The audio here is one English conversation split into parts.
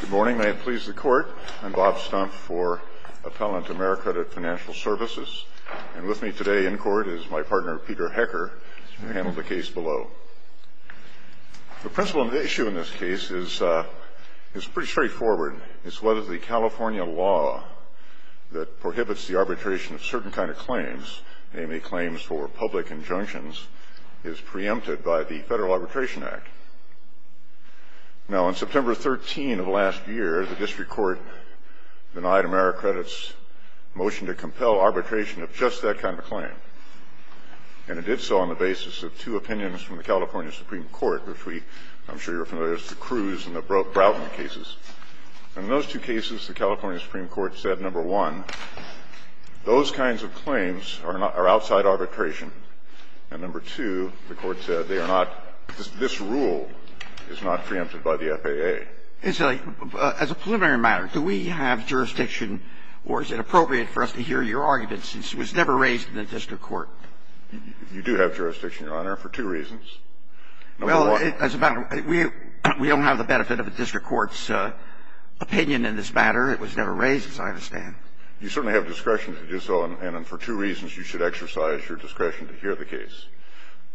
Good morning. May it please the Court, I'm Bob Stumpf for Appellant Americredit Financial Services, and with me today in court is my partner Peter Hecker, who handled the case below. The principle of the issue in this case is pretty straightforward. It's whether the California law that prohibits the arbitration of certain kinds of claims, namely claims for public injunctions, is preempted by the Federal Arbitration Act. Now, on September 13 of last year, the District Court denied Americredit's motion to compel arbitration of just that kind of claim. And it did so on the basis of two opinions from the California Supreme Court, which I'm sure you're familiar with, the Cruz and the Broughton cases. And in those two cases, the California Supreme Court said, number one, those kinds of claims are outside arbitration. And number two, the Court said they are not – this rule is not preempted by the FAA. It's a – as a preliminary matter, do we have jurisdiction, or is it appropriate for us to hear your arguments, since it was never raised in the District Court? You do have jurisdiction, Your Honor, for two reasons. Well, as a matter – we don't have the benefit of the District Court's opinion in this matter. It was never raised, as I understand. You certainly have discretion to do so, and for two reasons you should exercise your discretion to hear the case.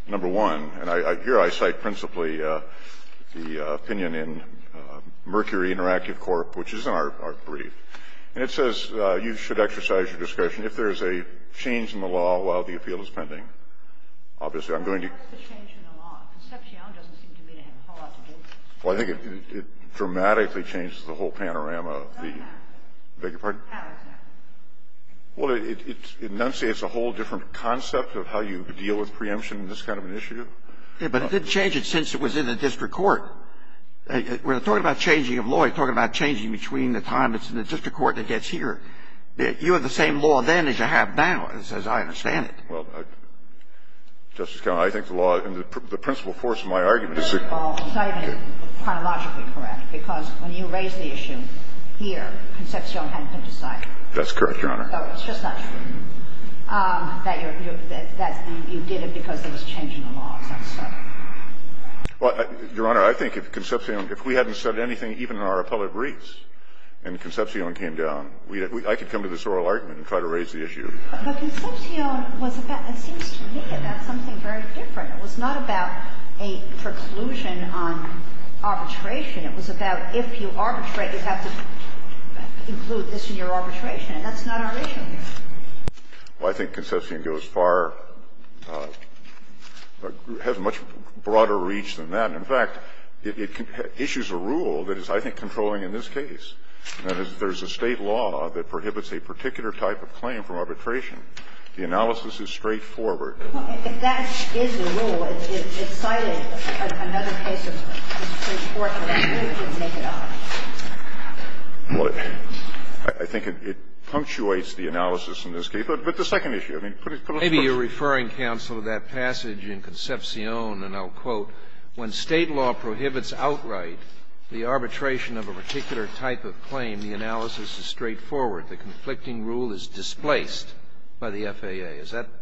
Number one, and here I cite principally the opinion in Mercury Interactive Corp., which is in our brief, and it says you should exercise your discretion if there is a change in the law while the appeal is pending. Obviously, I'm going to be – The change in the law, Concepcion doesn't seem to have a whole lot to do with this. Well, I think it dramatically changes the whole panorama of the – I beg your pardon? Well, it enunciates a whole different concept of how you deal with preemption in this kind of an issue. Yeah, but it didn't change it since it was in the District Court. We're talking about changing of law, you're talking about changing between the time it's in the District Court and it gets here. You have the same law then as you have now, as I understand it. Well, Justice Kagan, I think the law – the principal force of my argument is that the law is not even chronologically correct, because when you raised the issue here, Concepcion hadn't been decided. That's correct, Your Honor. So it's just not true that you're – that you did it because there was change in the law, is that so? Well, Your Honor, I think if Concepcion – if we hadn't said anything even in our appellate briefs and Concepcion came down, I could come to this oral argument and try to raise the issue. But Concepcion was about – it seems to me it was about something very different. It was not about a preclusion on arbitration. It was about if you arbitrate, you have to include this in your arbitration. And that's not our issue here. Well, I think Concepcion goes far – has much broader reach than that. In fact, it issues a rule that is, I think, controlling in this case. That is, there's a State law that prohibits a particular type of claim from arbitration. The analysis is straightforward. Well, if that is the rule, it's cited in another case of the Supreme Court, and I think you can make it up. Well, I think it punctuates the analysis in this case. But the second issue, I mean, put it – put it first. Maybe you're referring, counsel, to that passage in Concepcion, and I'll quote, when State law prohibits outright the arbitration of a particular type of claim, the analysis is straightforward. The conflicting rule is displaced by the FAA. Is that –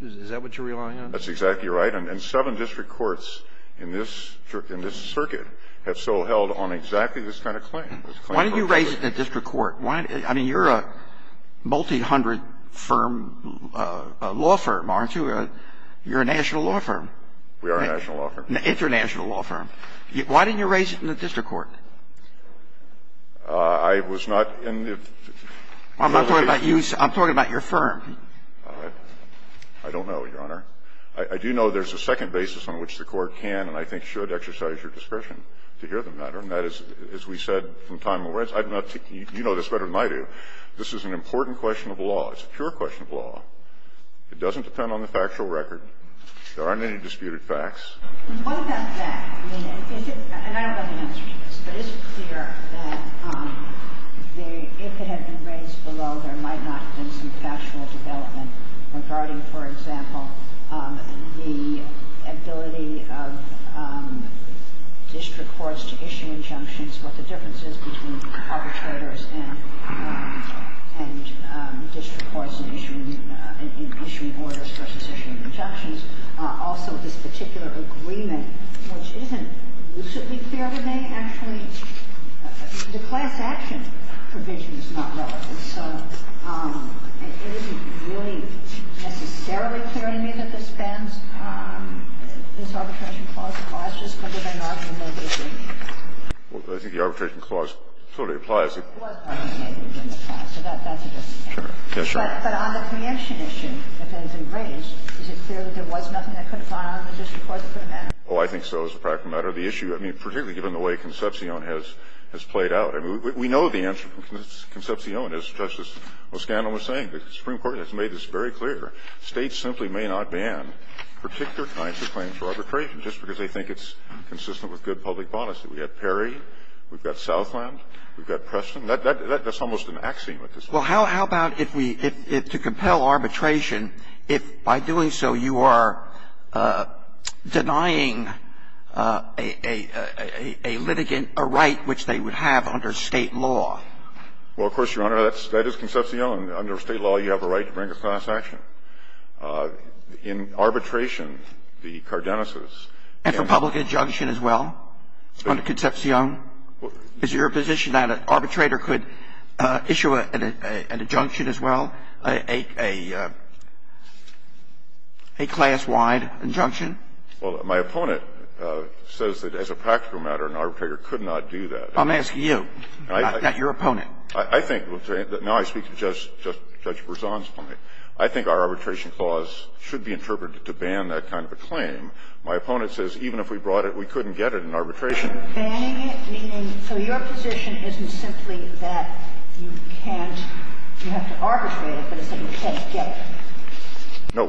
is that what you're relying on? That's exactly right. And seven district courts in this – in this circuit have so held on exactly this kind of claim. Why didn't you raise it in a district court? I mean, you're a multi-hundred firm law firm, aren't you? You're a national law firm. We are a national law firm. International law firm. Why didn't you raise it in a district court? I was not in the – I'm not talking about you. I'm talking about your firm. I don't know, Your Honor. I do know there's a second basis on which the Court can and I think should exercise your discretion to hear the matter, and that is, as we said from time immemorial – you know this better than I do. This is an important question of law. It's a pure question of law. It doesn't depend on the factual record. There aren't any disputed facts. What about that? I mean, is it – and I don't have the answer to this, but is it clear that the – if it had been raised below, there might not have been some factual development regarding, for example, the ability of district courts to issue injunctions, what the difference is between arbitrators and district courts in issuing – in issuing orders versus issuing injunctions? Also, this particular agreement, which isn't lucidly clear to me, actually – the class action provision is not relevant. So it isn't really necessarily clear to me that this spends – this arbitration clause applies just under the inaugural provision. Well, I think the arbitration clause sort of applies. It was articulated in the past, so that's a different case. Sure. Yeah, sure. But on the preemption issue, if it has been raised, is it clear that there was nothing that could have gone on in the district court that would matter? Oh, I think so. It's a practical matter. The issue – I mean, particularly given the way Concepcion has played out. I mean, we know the answer from Concepcion, as Justice O'Scannan was saying. The Supreme Court has made this very clear. States simply may not ban particular kinds of claims for arbitration just because they think it's consistent with good public policy. We have Perry. We've got Preston. That's almost an axiom at this point. Well, how about if we – if to compel arbitration, if by doing so you are denying a litigant a right which they would have under State law? Well, of course, Your Honor, that is Concepcion. Under State law, you have a right to bring a class action. In arbitration, the cardenesis can be used. And for public injunction as well under Concepcion? Is it your position that an arbitrator could issue an injunction as well, a class-wide injunction? Well, my opponent says that as a practical matter, an arbitrator could not do that. I'm asking you, not your opponent. I think – now I speak to Judge Berzon's point. I think our arbitration clause should be interpreted to ban that kind of a claim. My opponent says even if we brought it, we couldn't get it in arbitration. Are you banning it, meaning – so your position isn't simply that you can't – you have to arbitrate it, but it's that you can't get it? No.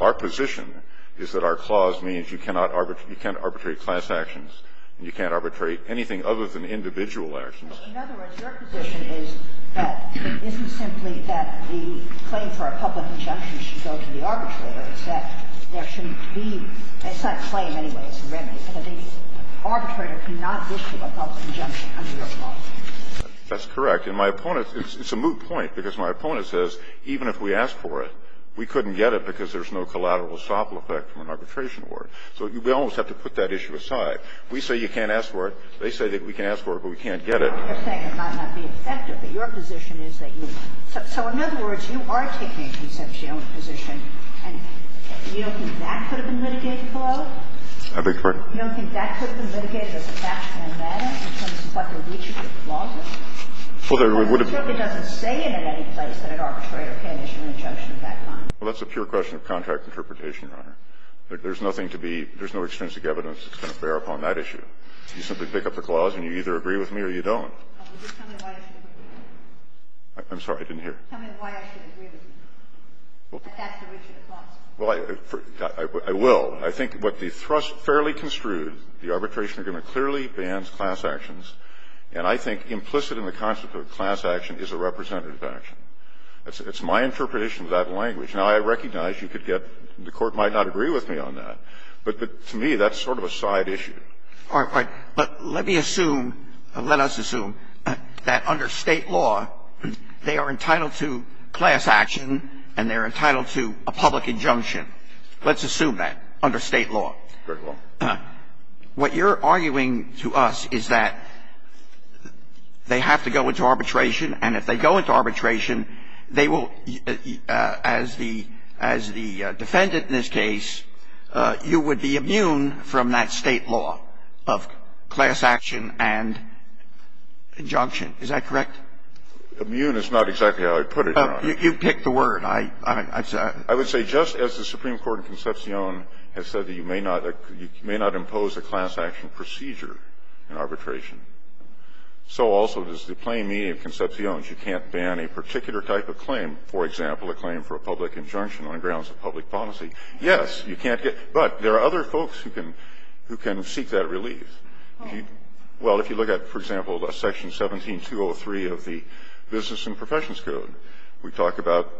Our position is that our clause means you cannot arbitrate class actions and you can't arbitrate anything other than individual actions. In other words, your position is that it isn't simply that the claim for a public injunction should go to the arbitrator. It's that there shouldn't be – it's not a claim anyway. It's a remedy, but the arbitrator cannot issue a public injunction under your clause. That's correct. And my opponent – it's a moot point, because my opponent says even if we asked for it, we couldn't get it because there's no collateral estoppel effect from an arbitration award. So we almost have to put that issue aside. We say you can't ask for it. They say that we can ask for it, but we can't get it. You're saying it might not be effective, but your position is that you – so in other words, you are taking a conceptional position, and you don't think that could have been litigated below? I beg your pardon? You don't think that could have been litigated as a fact and a matter in terms of what the Richard clause is? Well, there would have been – Well, it certainly doesn't say in it any place that an arbitrator can issue an injunction of that kind. Well, that's a pure question of contract interpretation, Your Honor. There's nothing to be – there's no extrinsic evidence that's going to bear upon that issue. You simply pick up the clause and you either agree with me or you don't. I'm sorry. I didn't hear. Tell me why I should agree with you. Well, I will. Well, I think what the thrust fairly construed, the arbitration agreement clearly bans class actions. And I think implicit in the concept of a class action is a representative action. It's my interpretation of that language. Now, I recognize you could get – the Court might not agree with me on that. But to me, that's sort of a side issue. All right. But let me assume – let us assume that under State law, they are entitled to class action and they are entitled to a public injunction. Let's assume that under State law. Very well. What you're arguing to us is that they have to go into arbitration. And if they go into arbitration, they will – as the defendant in this case, you would be immune from that State law of class action and injunction. Is that correct? Immune is not exactly how I put it, Your Honor. You pick the word. I would say just as the Supreme Court in Concepcion has said that you may not impose a class action procedure in arbitration, so also does the plain meaning of Concepcion. You can't ban a particular type of claim, for example, a claim for a public injunction on the grounds of public policy. Yes, you can't get – but there are other folks who can seek that relief. Well, if you look at, for example, Section 17203 of the Business and Professions Code, we talk about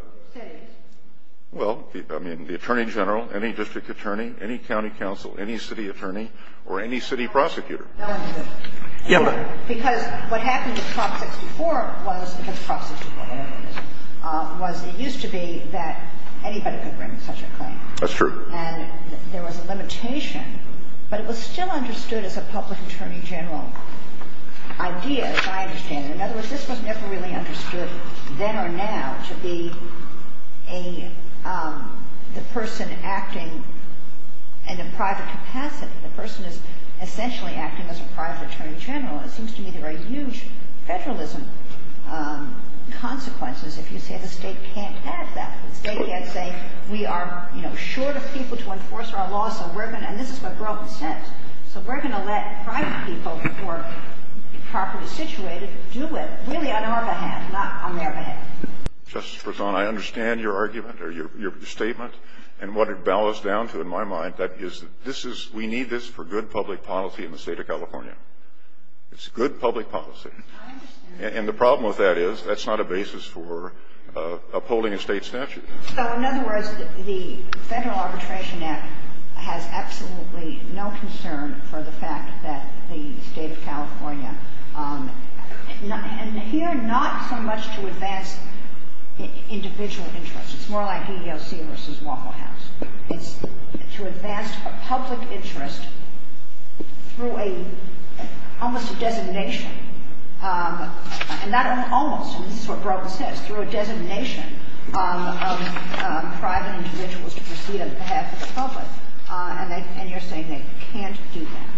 the Attorney General, any district attorney, any county counsel, any city attorney, or any city prosecutor. Yes. Because what happened in Prop 64 was it used to be that anybody could bring such a claim. That's true. And there was a limitation, but it was still understood as a public attorney general idea, as I understand it. In other words, this was never really understood then or now to be the person acting in a private capacity. The person is essentially acting as a private attorney general. It seems to me there are huge federalism consequences if you say the State can't have that. The State can't say we are short of people to enforce our law, so we're going to – and this is what broke the sentence. So we're going to let private people who are properly situated do it, really on our behalf, not on their behalf. Justice Bresson, I understand your argument or your statement and what it bows down to in my mind, that is, this is – we need this for good public policy in the State of California. It's good public policy. I understand. And the problem with that is that's not a basis for upholding a State statute. So in other words, the Federal Arbitration Act has absolutely no concern for the fact that the State of California – and here, not so much to advance individual interests. It's more like EEOC versus Waffle House. It's to advance public interest through a – almost a designation. And that almost – and this is what broke the sentence – through a designation of private individuals to proceed on behalf of the public. And they – and you're saying they can't do that.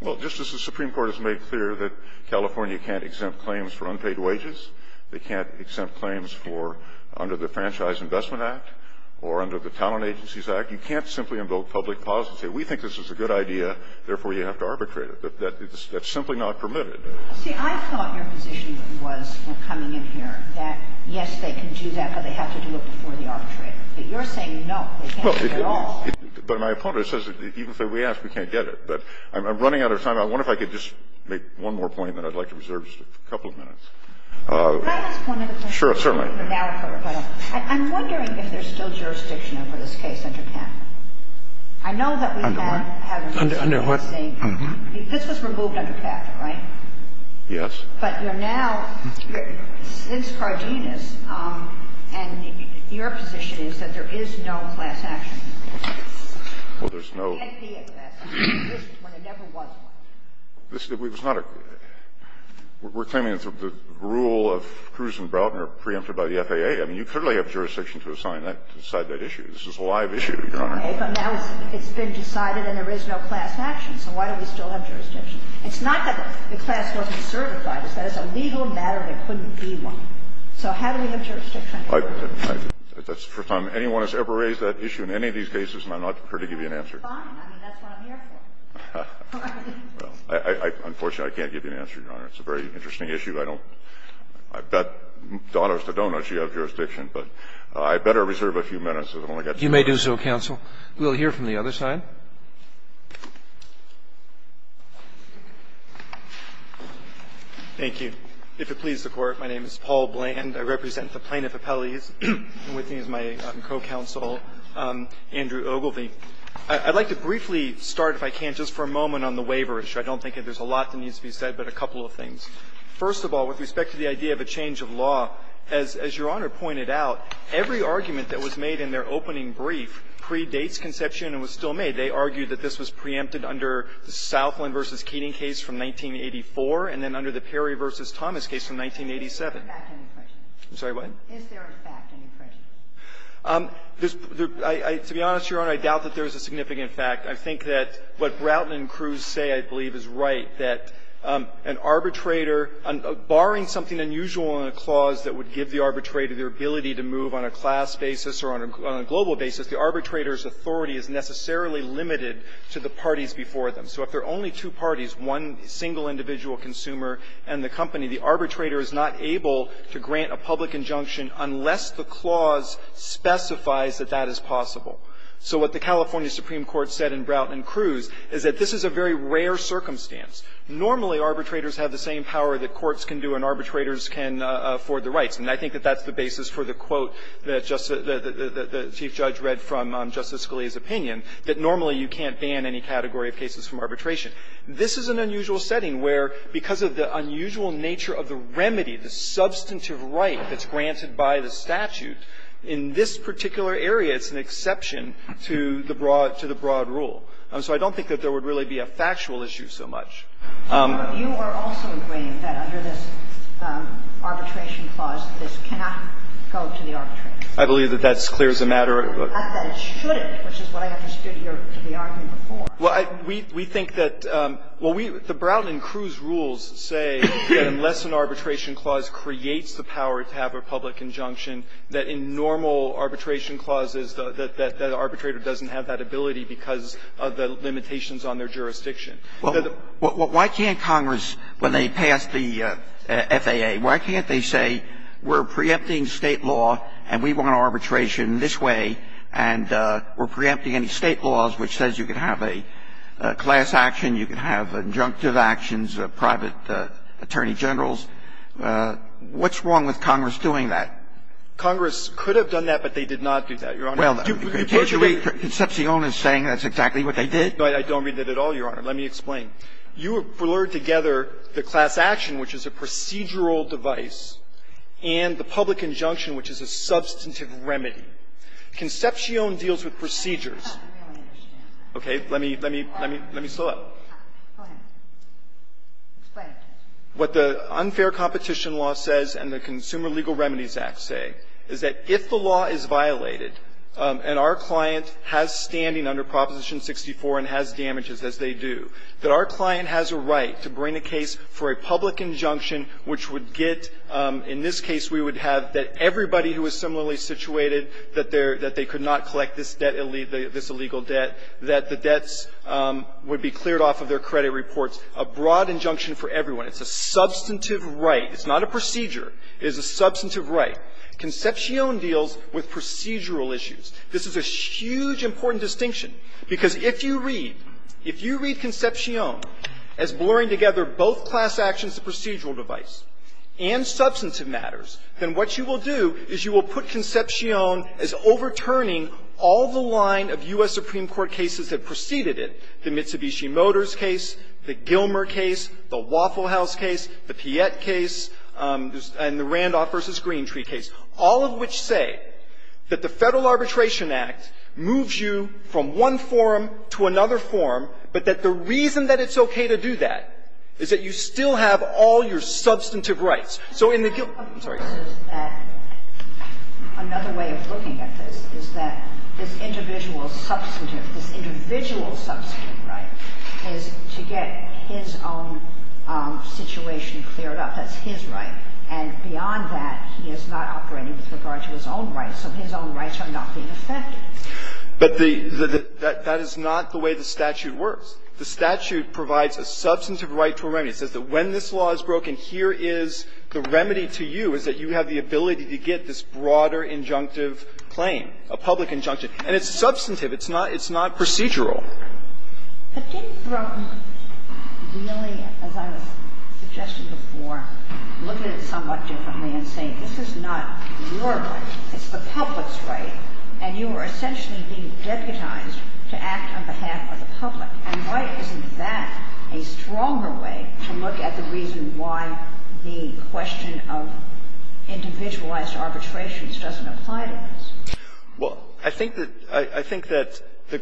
Well, Justice, the Supreme Court has made clear that California can't exempt claims for unpaid wages. They can't exempt claims for – under the Franchise Investment Act or under the Talent Agencies Act. You can't simply invoke public policy and say we think this is a good idea, therefore you have to arbitrate it. That's simply not permitted. See, I thought your position was, coming in here, that yes, they can do that, but they have to do it before the arbitrator. But you're saying no, they can't do it at all. But my opponent says that even if we ask, we can't get it. But I'm running out of time. I wonder if I could just make one more point, and then I'd like to reserve just a couple of minutes. Can I just point out a point? Sure, certainly. I'm wondering if there's still jurisdiction over this case under Cather. I know that we've had – Under what? Under what? This was removed under Cather, right? Yes. But you're now, since Cardenas, and your position is that there is no class action. Well, there's no – It can't be a class action. It existed when there never was one. This is not a – we're claiming that the rule of Cruz and Broughton are preempted by the FAA. I mean, you clearly have jurisdiction to decide that issue. This is a live issue, Your Honor. Okay. But now it's been decided and there is no class action. So why do we still have jurisdiction? It's not that the class wasn't certified. It's that it's a legal matter and there couldn't be one. So how do we have jurisdiction? That's the first time anyone has ever raised that issue in any of these cases, and I'm not here to give you an answer. Fine. I mean, that's what I'm here for. Unfortunately, I can't give you an answer, Your Honor. It's a very interesting issue. I don't – I bet donors to donors you have jurisdiction. But I'd better reserve a few minutes. I've only got two minutes. You may do so, counsel. We'll hear from the other side. Thank you. If it pleases the Court, my name is Paul Bland. I represent the plaintiff appellees. And with me is my co-counsel, Andrew Ogilvie. I'd like to briefly start, if I can, just for a moment on the waiver issue. I don't think there's a lot that needs to be said, but a couple of things. First of all, with respect to the idea of a change of law, as Your Honor pointed out, every argument that was made in their opening brief pre-Dates conception and was still made, they argued that this was preempted under the Southland v. Keating case from 1984 and then under the Perry v. Thomas case from 1987. Is there a fact in the question? I'm sorry, what? Is there a fact in the question? To be honest, Your Honor, I doubt that there is a significant fact. I think that what Broughton and Cruz say, I believe, is right, that an arbitrator – barring something unusual in a clause that would give the arbitrator their ability to move on a class basis or on a global basis, the arbitrator's authority is necessarily limited to the parties before them. So if there are only two parties, one single individual consumer and the company, the arbitrator is not able to grant a public injunction unless the clause specifies that that is possible. So what the California Supreme Court said in Broughton and Cruz is that this is a very rare circumstance. Normally, arbitrators have the same power that courts can do and arbitrators can afford the rights. And I think that that's the basis for the quote that Justice – that the Chief Judge read from Justice Scalia's opinion, that normally you can't ban any category of cases from arbitration. This is an unusual setting where, because of the unusual nature of the remedy, the substantive right that's granted by the statute, in this particular area it's an exception to the broad – to the broad rule. So I don't think that there would really be a factual issue so much. You are also agreeing that under this arbitration clause, this cannot go to the arbitrator. I believe that that's clear as a matter of the fact that it shouldn't, which is what I understood your – the argument before. Well, I – we think that – well, we – the Broughton and Cruz rules say that unless an arbitration clause creates the power to have a public injunction, that in normal arbitration clauses that the arbitrator doesn't have that ability because of the limitations on their jurisdiction. Well, why can't Congress, when they pass the FAA, why can't they say we're preempting State law and we want arbitration this way and we're preempting any State laws which says you can have a class action, you can have injunctive actions, private attorney generals? What's wrong with Congress doing that? Congress could have done that, but they did not do that, Your Honor. Well, can't you read Concepcion as saying that's exactly what they did? No, I don't read that at all, Your Honor. Let me explain. You have blurred together the class action, which is a procedural device, and the public injunction, which is a substantive remedy. Concepcion deals with procedures. I don't really understand that. Okay. Let me – let me – let me slow up. Go ahead. Explain it to me. What the unfair competition law says and the Consumer Legal Remedies Act say is that if the law is violated and our client has standing under Proposition 64 and has damages as they do, that our client has a right to bring a case for a public injunction which would get – in this case, we would have that everybody who is similarly situated, that they're – that they could not collect this debt – this illegal debt, that the debts would be cleared off of their credit reports, a broad injunction for everyone. It's a substantive right. It's not a procedure. It is a substantive right. Concepcion deals with procedural issues. This is a huge important distinction, because if you read – if you read Concepcion as blurring together both class actions, the procedural device, and substantive matters, then what you will do is you will put Concepcion as overturning all the line of U.S. Supreme Court cases that preceded it, the Mitsubishi Motors case, the Gilmer case, the Waffle House case, the Piette case, and the Randolph v. Green Tree case, all of which say that the Federal Arbitration Act moves you from one form to another form, but that the reason that it's okay to do that is that you still have all your substantive rights. So in the – I'm sorry. Another way of looking at this is that this individual's substantive, this individual's substantive right is to get his own situation cleared up. That's his right. And beyond that, he is not operating with regard to his own rights, so his own rights are not being affected. But the – that is not the way the statute works. The statute provides a substantive right to a remedy. It says that when this law is broken, here is the remedy to you, which is that you have the ability to get this broader injunctive claim, a public injunction. And it's substantive. It's not – it's not procedural. But didn't Broome really, as I was suggesting before, look at it somewhat differently and say, this is not your right, it's the public's right, and you are essentially being deputized to act on behalf of the public? And why isn't that a stronger way to look at the reason why the question of individualized arbitrations doesn't apply to this? Well, I think that – I think that the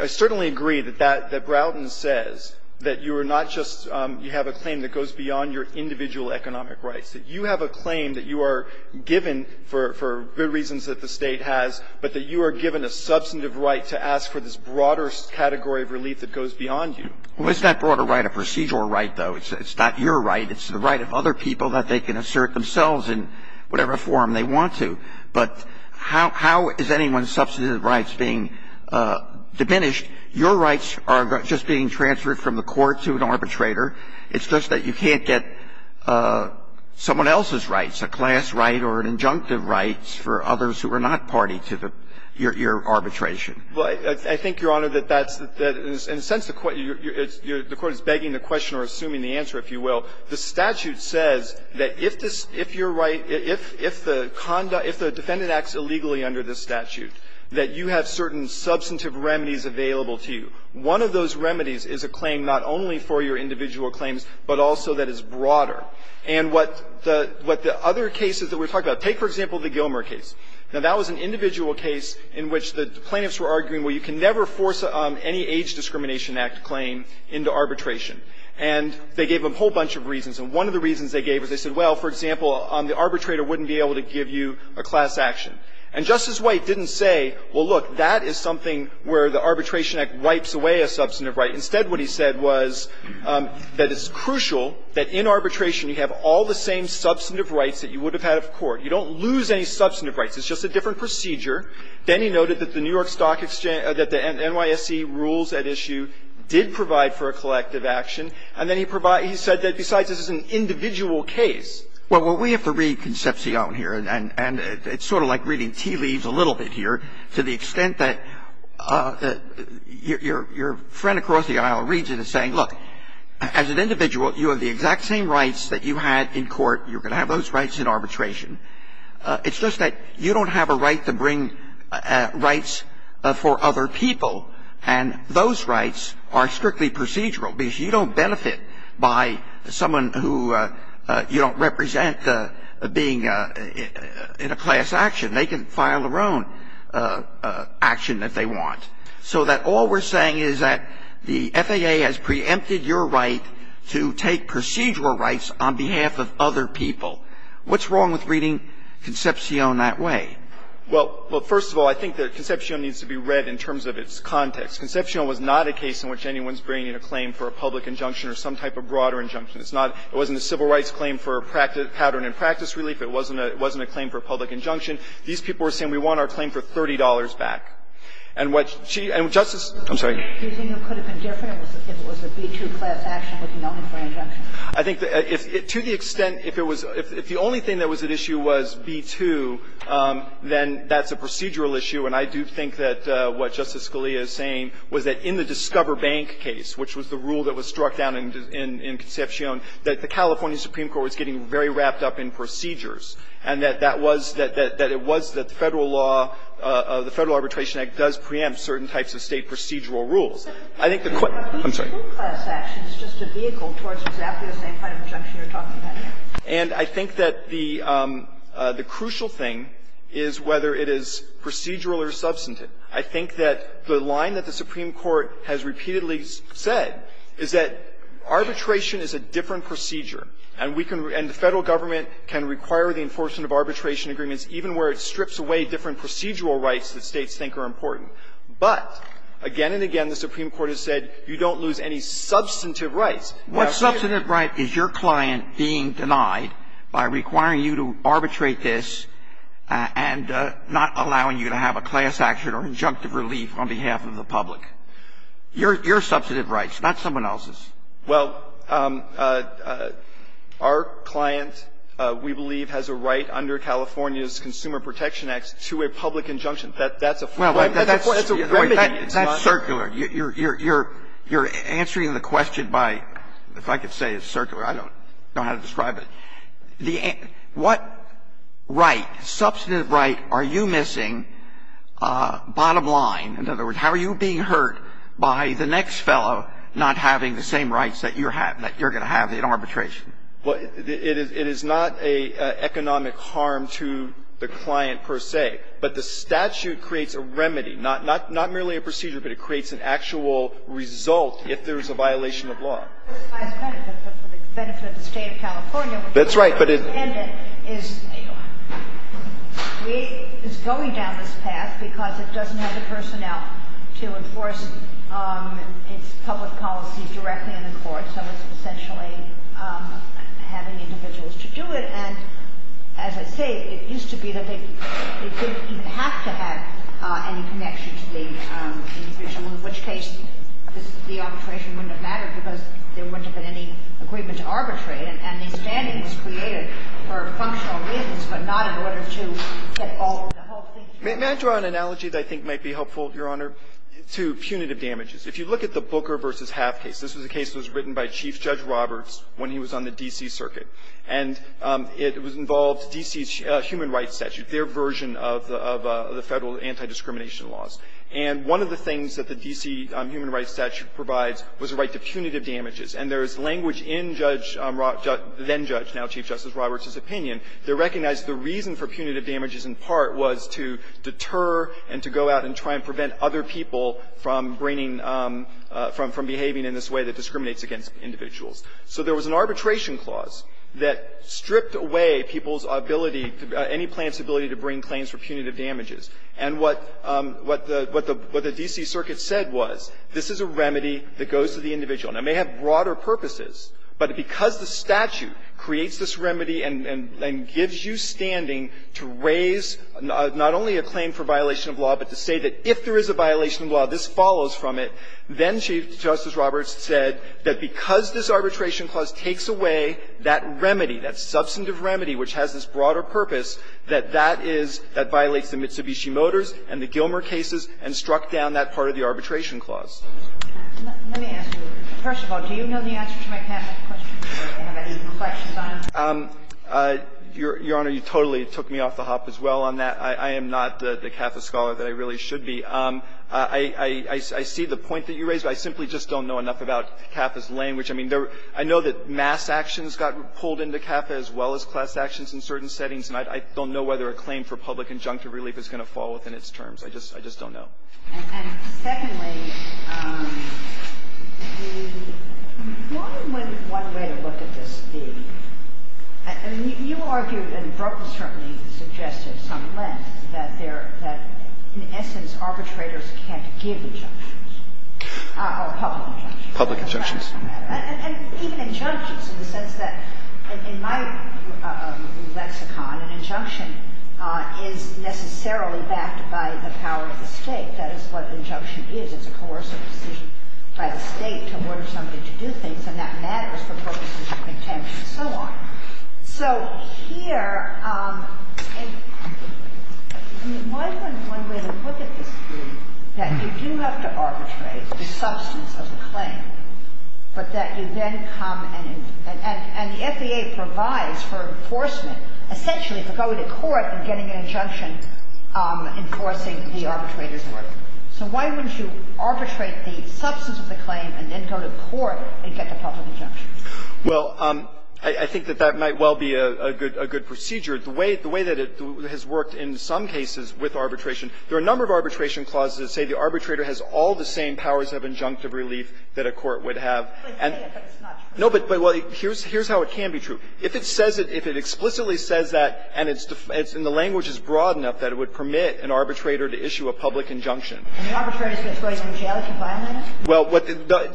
– I certainly agree that that – that Broughton says, that you are not just – you have a claim that goes beyond your individual economic rights. That you have a claim that you are given for good reasons that the State has, but that you are given a substantive right to ask for this broader category of relief that goes beyond you. Well, isn't that broader right a procedural right, though? It's not your right. It's the right of other people that they can assert themselves in whatever form they want to. But how – how is anyone's substantive rights being diminished? Your rights are just being transferred from the court to an arbitrator. It's just that you can't get someone else's rights, a class right or an injunctive right for others who are not party to the – your – your arbitration. Well, I think, Your Honor, that that's – that is, in a sense, a – in a sense, it's – the court is begging the question or assuming the answer, if you will. The statute says that if this – if your right – if – if the conduct – if the defendant acts illegally under this statute, that you have certain substantive remedies available to you. One of those remedies is a claim not only for your individual claims, but also that is broader. And what the – what the other cases that we're talking about – take, for example, the Gilmer case. Now, that was an individual case in which the plaintiffs were arguing, well, you can never force any Age Discrimination Act claim into arbitration. And they gave them a whole bunch of reasons. And one of the reasons they gave was they said, well, for example, the arbitrator wouldn't be able to give you a class action. And Justice White didn't say, well, look, that is something where the Arbitration Act wipes away a substantive right. Instead, what he said was that it's crucial that in arbitration you have all the same substantive rights that you would have had at court. You don't lose any substantive rights. It's just a different procedure. Then he noted that the New York Stock Exchange – that the NYSE rules at issue did provide for a collective action. And then he provided – he said that besides this is an individual case. Well, we have to read Concepcion here, and it's sort of like reading tea leaves a little bit here, to the extent that your friend across the aisle reads it and is saying, look, as an individual, you have the exact same rights that you had in court. You're going to have those rights in arbitration. It's just that you don't have a right to bring rights for other people. And those rights are strictly procedural, because you don't benefit by someone who you don't represent being in a class action. They can file their own action if they want. So that all we're saying is that the FAA has preempted your right to take procedural rights on behalf of other people. What's wrong with reading Concepcion? Well, first of all, I think that Concepcion needs to be read in terms of its context. Concepcion was not a case in which anyone's bringing a claim for a public injunction or some type of broader injunction. It's not – it wasn't a civil rights claim for a pattern in practice, really, but it wasn't a claim for a public injunction. These people are saying we want our claim for $30 back. And what she – and Justice Kagan – I'm sorry. The only thing that could have been different was if it was a B-2 class action looking only for an injunction. I think that if – to the extent if it was – if the only thing that was at issue was B-2, then that's a procedural issue. And I do think that what Justice Scalia is saying was that in the Discover Bank case, which was the rule that was struck down in Concepcion, that the California Supreme Court was getting very wrapped up in procedures, and that that was – that it was that the Federal law – the Federal Arbitration Act does preempt certain types of State procedural rules. I think the – I'm sorry. The B-2 class action is just a vehicle towards exactly the same kind of injunction you're talking about here. And I think that the – the crucial thing is whether it is procedural or substantive. I think that the line that the Supreme Court has repeatedly said is that arbitration is a different procedure, and we can – and the Federal government can require the enforcement of arbitration agreements even where it strips away different procedural rights that States think are important. But again and again, the Supreme Court has said you don't lose any substantive rights. Now, here you're going to lose any substantive rights. Alito, what substantive right is your client being denied by requiring you to arbitrate this and not allowing you to have a class action or injunctive relief on behalf of the public? Your – your substantive rights, not someone else's. Well, our client, we believe, has a right under California's Consumer Protection Act to a public injunction. That's a form of – that's a remedy. That's circular. You're answering the question by – if I could say it's circular. I don't know how to describe it. The – what right, substantive right, are you missing bottom line? In other words, how are you being hurt by the next fellow not having the same rights that you're going to have in arbitration? Well, it is not an economic harm to the client, per se. But the statute creates a remedy, not merely a procedure, but it creates an actual result if there's a violation of law. But for the benefit of the State of California, which is independent, is going down this path because it doesn't have the personnel to enforce its public policies directly in the court, so it's essentially having individuals to do it. And as I say, it used to be that they didn't even have to have any connection to the individual, in which case the arbitration wouldn't have mattered because there wouldn't have been any agreement to arbitrate, and the standing was created for functional reasons, but not in order to get all of the whole thing through. May I draw an analogy that I think might be helpful, Your Honor, to punitive damages? If you look at the Booker v. Half case, this was a case that was written by Chief Judge Roberts when he was on the D.C. Circuit. And it involved D.C.'s Human Rights Statute, their version of the Federal anti-discrimination laws. And one of the things that the D.C. Human Rights Statute provides was a right to punitive damages. And there is language in Judge Rob — then-Judge, now Chief Justice Roberts' opinion that recognized the reason for punitive damages in part was to deter and to go out and try and prevent other people from bringing — from behaving in this way that discriminates against individuals. So there was an arbitration clause that stripped away people's ability, any plaintiff's ability to bring claims for punitive damages. And what the D.C. Circuit said was, this is a remedy that goes to the individual. And it may have broader purposes, but because the statute creates this remedy and gives you standing to raise not only a claim for violation of law, but to say that if there is a violation of law, this follows from it, then Chief Justice Roberts said that because this arbitration clause takes away that remedy, that substantive remedy which has this broader purpose, that that is — that violates the Mitsubishi Motors and the Gilmer cases and struck down that part of the arbitration clause. Kagan. Let me ask you, first of all, do you know the answer to my Catholic question or do you have any reflections on it? Your Honor, you totally took me off the hop as well on that. I am not the Catholic scholar that I really should be. I see the point that you raised, but I simply just don't know enough about CAFA's language. I mean, there — I know that mass actions got pulled into CAFA as well as class actions in certain settings, and I don't know whether a claim for public injunctive relief is going to fall within its terms. I just don't know. And secondly, the — one way to look at this, the — I mean, you argued, and Broe public injunctions. And even injunctions in the sense that in my lexicon, an injunction is necessarily backed by the power of the State. That is what an injunction is. It's a coercive decision by the State to order somebody to do things, and that matters for purposes of contempt and so on. So here — I mean, why wouldn't one way to look at this be that you do have to arbitrate the substance of the claim, but that you then come and — and the F.B.A. provides for enforcement, essentially for going to court and getting an injunction enforcing the arbitrator's order? So why wouldn't you arbitrate the substance of the claim and then go to court and get the public injunction? Well, I think that that might well be a good — a good procedure. The way — the way that it has worked in some cases with arbitration, there are a number of arbitration clauses that say the arbitrator has all the same powers of injunctive relief that a court would have. No, but — well, here's how it can be true. If it says it — if it explicitly says that, and it's — and the language is broad enough that it would permit an arbitrator to issue a public injunction. And the arbitrator is going to go to jail if he violates it? Well,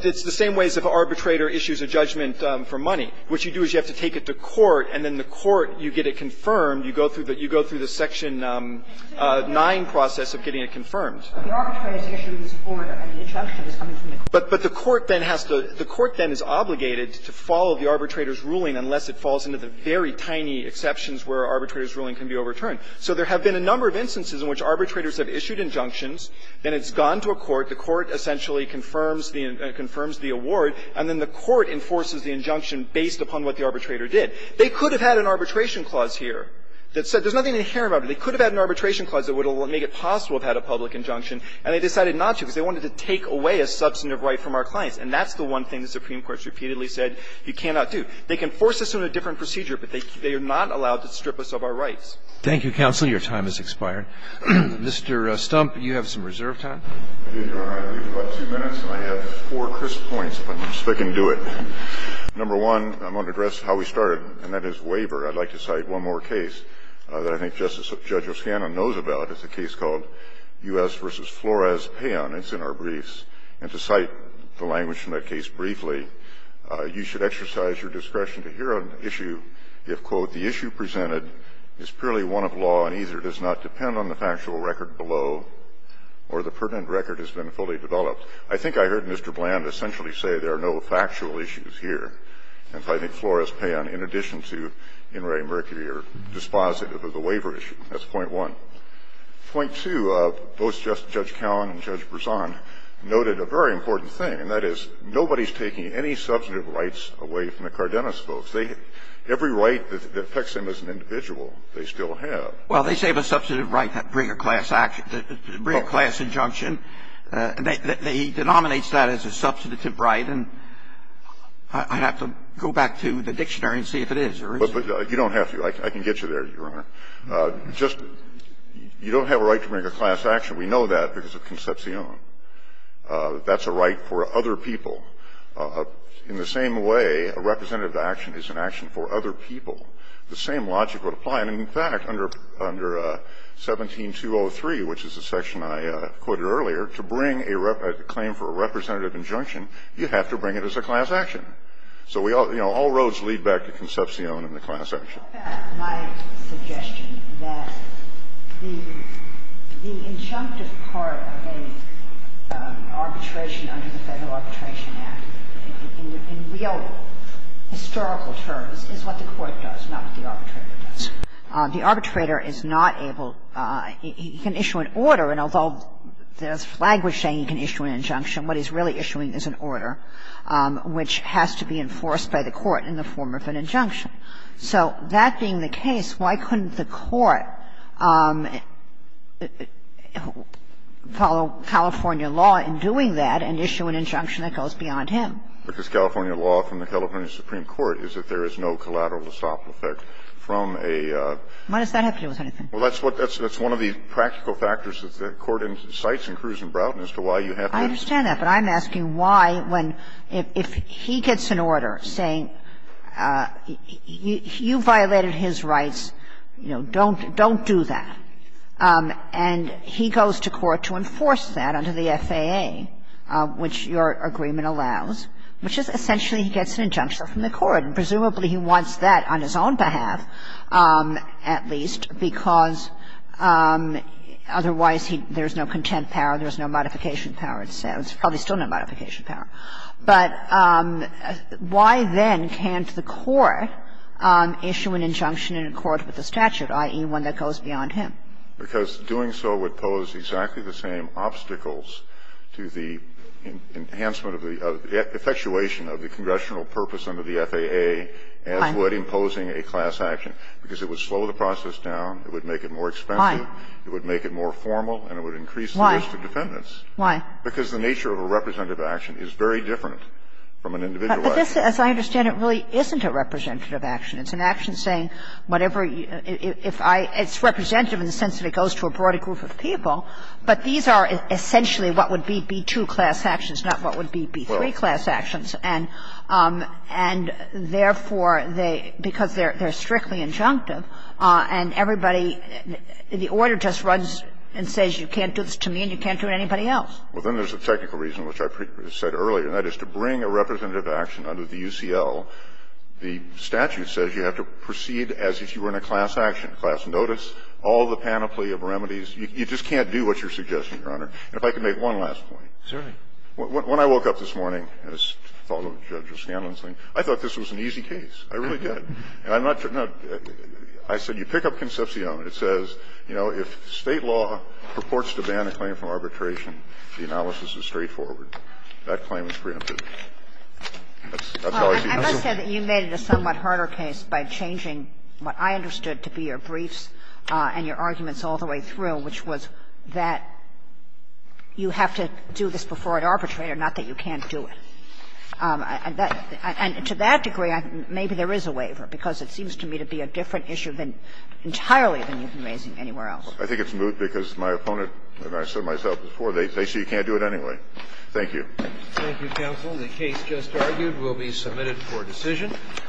it's the same way as if an arbitrator issues a judgment for money. What you do is you have to take it to court, and then the court, you get it confirmed. You go through the — you go through the Section 9 process of getting it confirmed. But the arbitrator is issuing this order, and the injunction is coming from the court. But the court then has to — the court then is obligated to follow the arbitrator's ruling unless it falls into the very tiny exceptions where an arbitrator's ruling can be overturned. So there have been a number of instances in which arbitrators have issued injunctions, then it's gone to a court, the court essentially confirms the — confirms the award, and then the court enforces the injunction based upon what the arbitrator did. They could have had an arbitration clause here that said — there's nothing inherent about it. They could have had an arbitration clause that would have made it possible to have had a public injunction, and they decided not to because they wanted to take away a substantive right from our clients. And that's the one thing the Supreme Court has repeatedly said you cannot do. They can force us on a different procedure, but they are not allowed to strip us of our rights. Roberts. Thank you, counsel. Your time has expired. Mr. Stump, you have some reserve time. I do, Your Honor. I believe about two minutes, and I have four crisp points, if I can do it. Number one, I'm going to address how we started, and that is waiver. I'd like to cite one more case that I think Justice — Judge Oscana knows about. It's a case called U.S. v. Flores-Payon. It's in our briefs. And to cite the language from that case briefly, you should exercise your discretion to hear an issue if, quote, I think I heard Mr. Bland essentially say there are no factual issues here, and I think Flores-Payon, in addition to Inouye-Mercury, are dispositive of the waiver issue. That's point one. Point two, both Judge Cowan and Judge Brisson noted a very important thing, and that is nobody is taking any substantive rights away from the Cardenas folks. Every right that affects them as an individual, they still have. Well, they say of a substantive right, bring a class action, bring a class injunction. He denominates that as a substantive right, and I'd have to go back to the dictionary and see if it is or isn't. But you don't have to. I can get you there, Your Honor. Just you don't have a right to bring a class action. We know that because of Concepcion. That's a right for other people. In the same way, a representative action is an action for other people. The same logic would apply. And in fact, under 17203, which is the section I quoted earlier, to bring a claim for a representative injunction, you have to bring it as a class action. So we all, you know, all roads lead back to Concepcion and the class action. Sotomayor, in effect, my suggestion that the injunctive part of an arbitration under the Federal Arbitration Act in real historical terms is what the court does, not what the arbitrator does. The arbitrator is not able to issue an order, and although there's language saying he can issue an injunction, what he's really issuing is an order which has to be enforced by the court in the form of an injunction. So that being the case, why couldn't the court follow California law in doing that and issue an injunction that goes beyond him? Because California law from the California Supreme Court is that there is no collateral to stop the effect from a ---- Why does that have to do with anything? Well, that's what the one of the practical factors that the court incites in Kruz and Broughton as to why you have to ---- you violated his rights, you know, don't do that. And he goes to court to enforce that under the FAA, which your agreement allows, which is essentially he gets an injunction from the court, and presumably he wants that on his own behalf, at least, because otherwise he ---- there's no content power, there's no modification power, probably still no modification power. But why then can't the court issue an injunction in accord with the statute, i.e., one that goes beyond him? Because doing so would pose exactly the same obstacles to the enhancement of the ---- effectuation of the congressional purpose under the FAA as would imposing a class action, because it would slow the process down, it would make it more expensive, it would make it more formal, and it would increase the risk of defendants. Why? Because the nature of a representative action is very different from an individual action. But this, as I understand it, really isn't a representative action. It's an action saying whatever you ---- if I ---- it's representative in the sense that it goes to a broader group of people, but these are essentially what would be B-2 class actions, not what would be B-3 class actions. And therefore, they ---- because they're strictly injunctive, and everybody ---- the order just runs and says you can't do this to me and you can't do it to anybody else. Well, then there's a technical reason, which I said earlier, and that is to bring a representative action under the UCL, the statute says you have to proceed as if you were in a class action, class notice, all the panoply of remedies. You just can't do what you're suggesting, Your Honor. And if I could make one last point. Certainly. When I woke up this morning, as fellow Judge O'Scanlan's saying, I thought this was an easy case. I really did. And I'm not ---- I said you pick up Concepcion, it says, you know, if State law purports to ban a claim from arbitration, the analysis is straightforward. That claim is preempted. That's always the case. I must say that you made it a somewhat harder case by changing what I understood to be your briefs and your arguments all the way through, which was that you have to do this before an arbitrator, not that you can't do it. And that ---- and to that degree, maybe there is a waiver, because it seems to me to be a different issue than entirely than you've been raising anywhere else. I think it's moot because my opponent, and I said myself before, they say you can't do it anyway. Thank you. Thank you, counsel. The case just argued will be submitted for decision.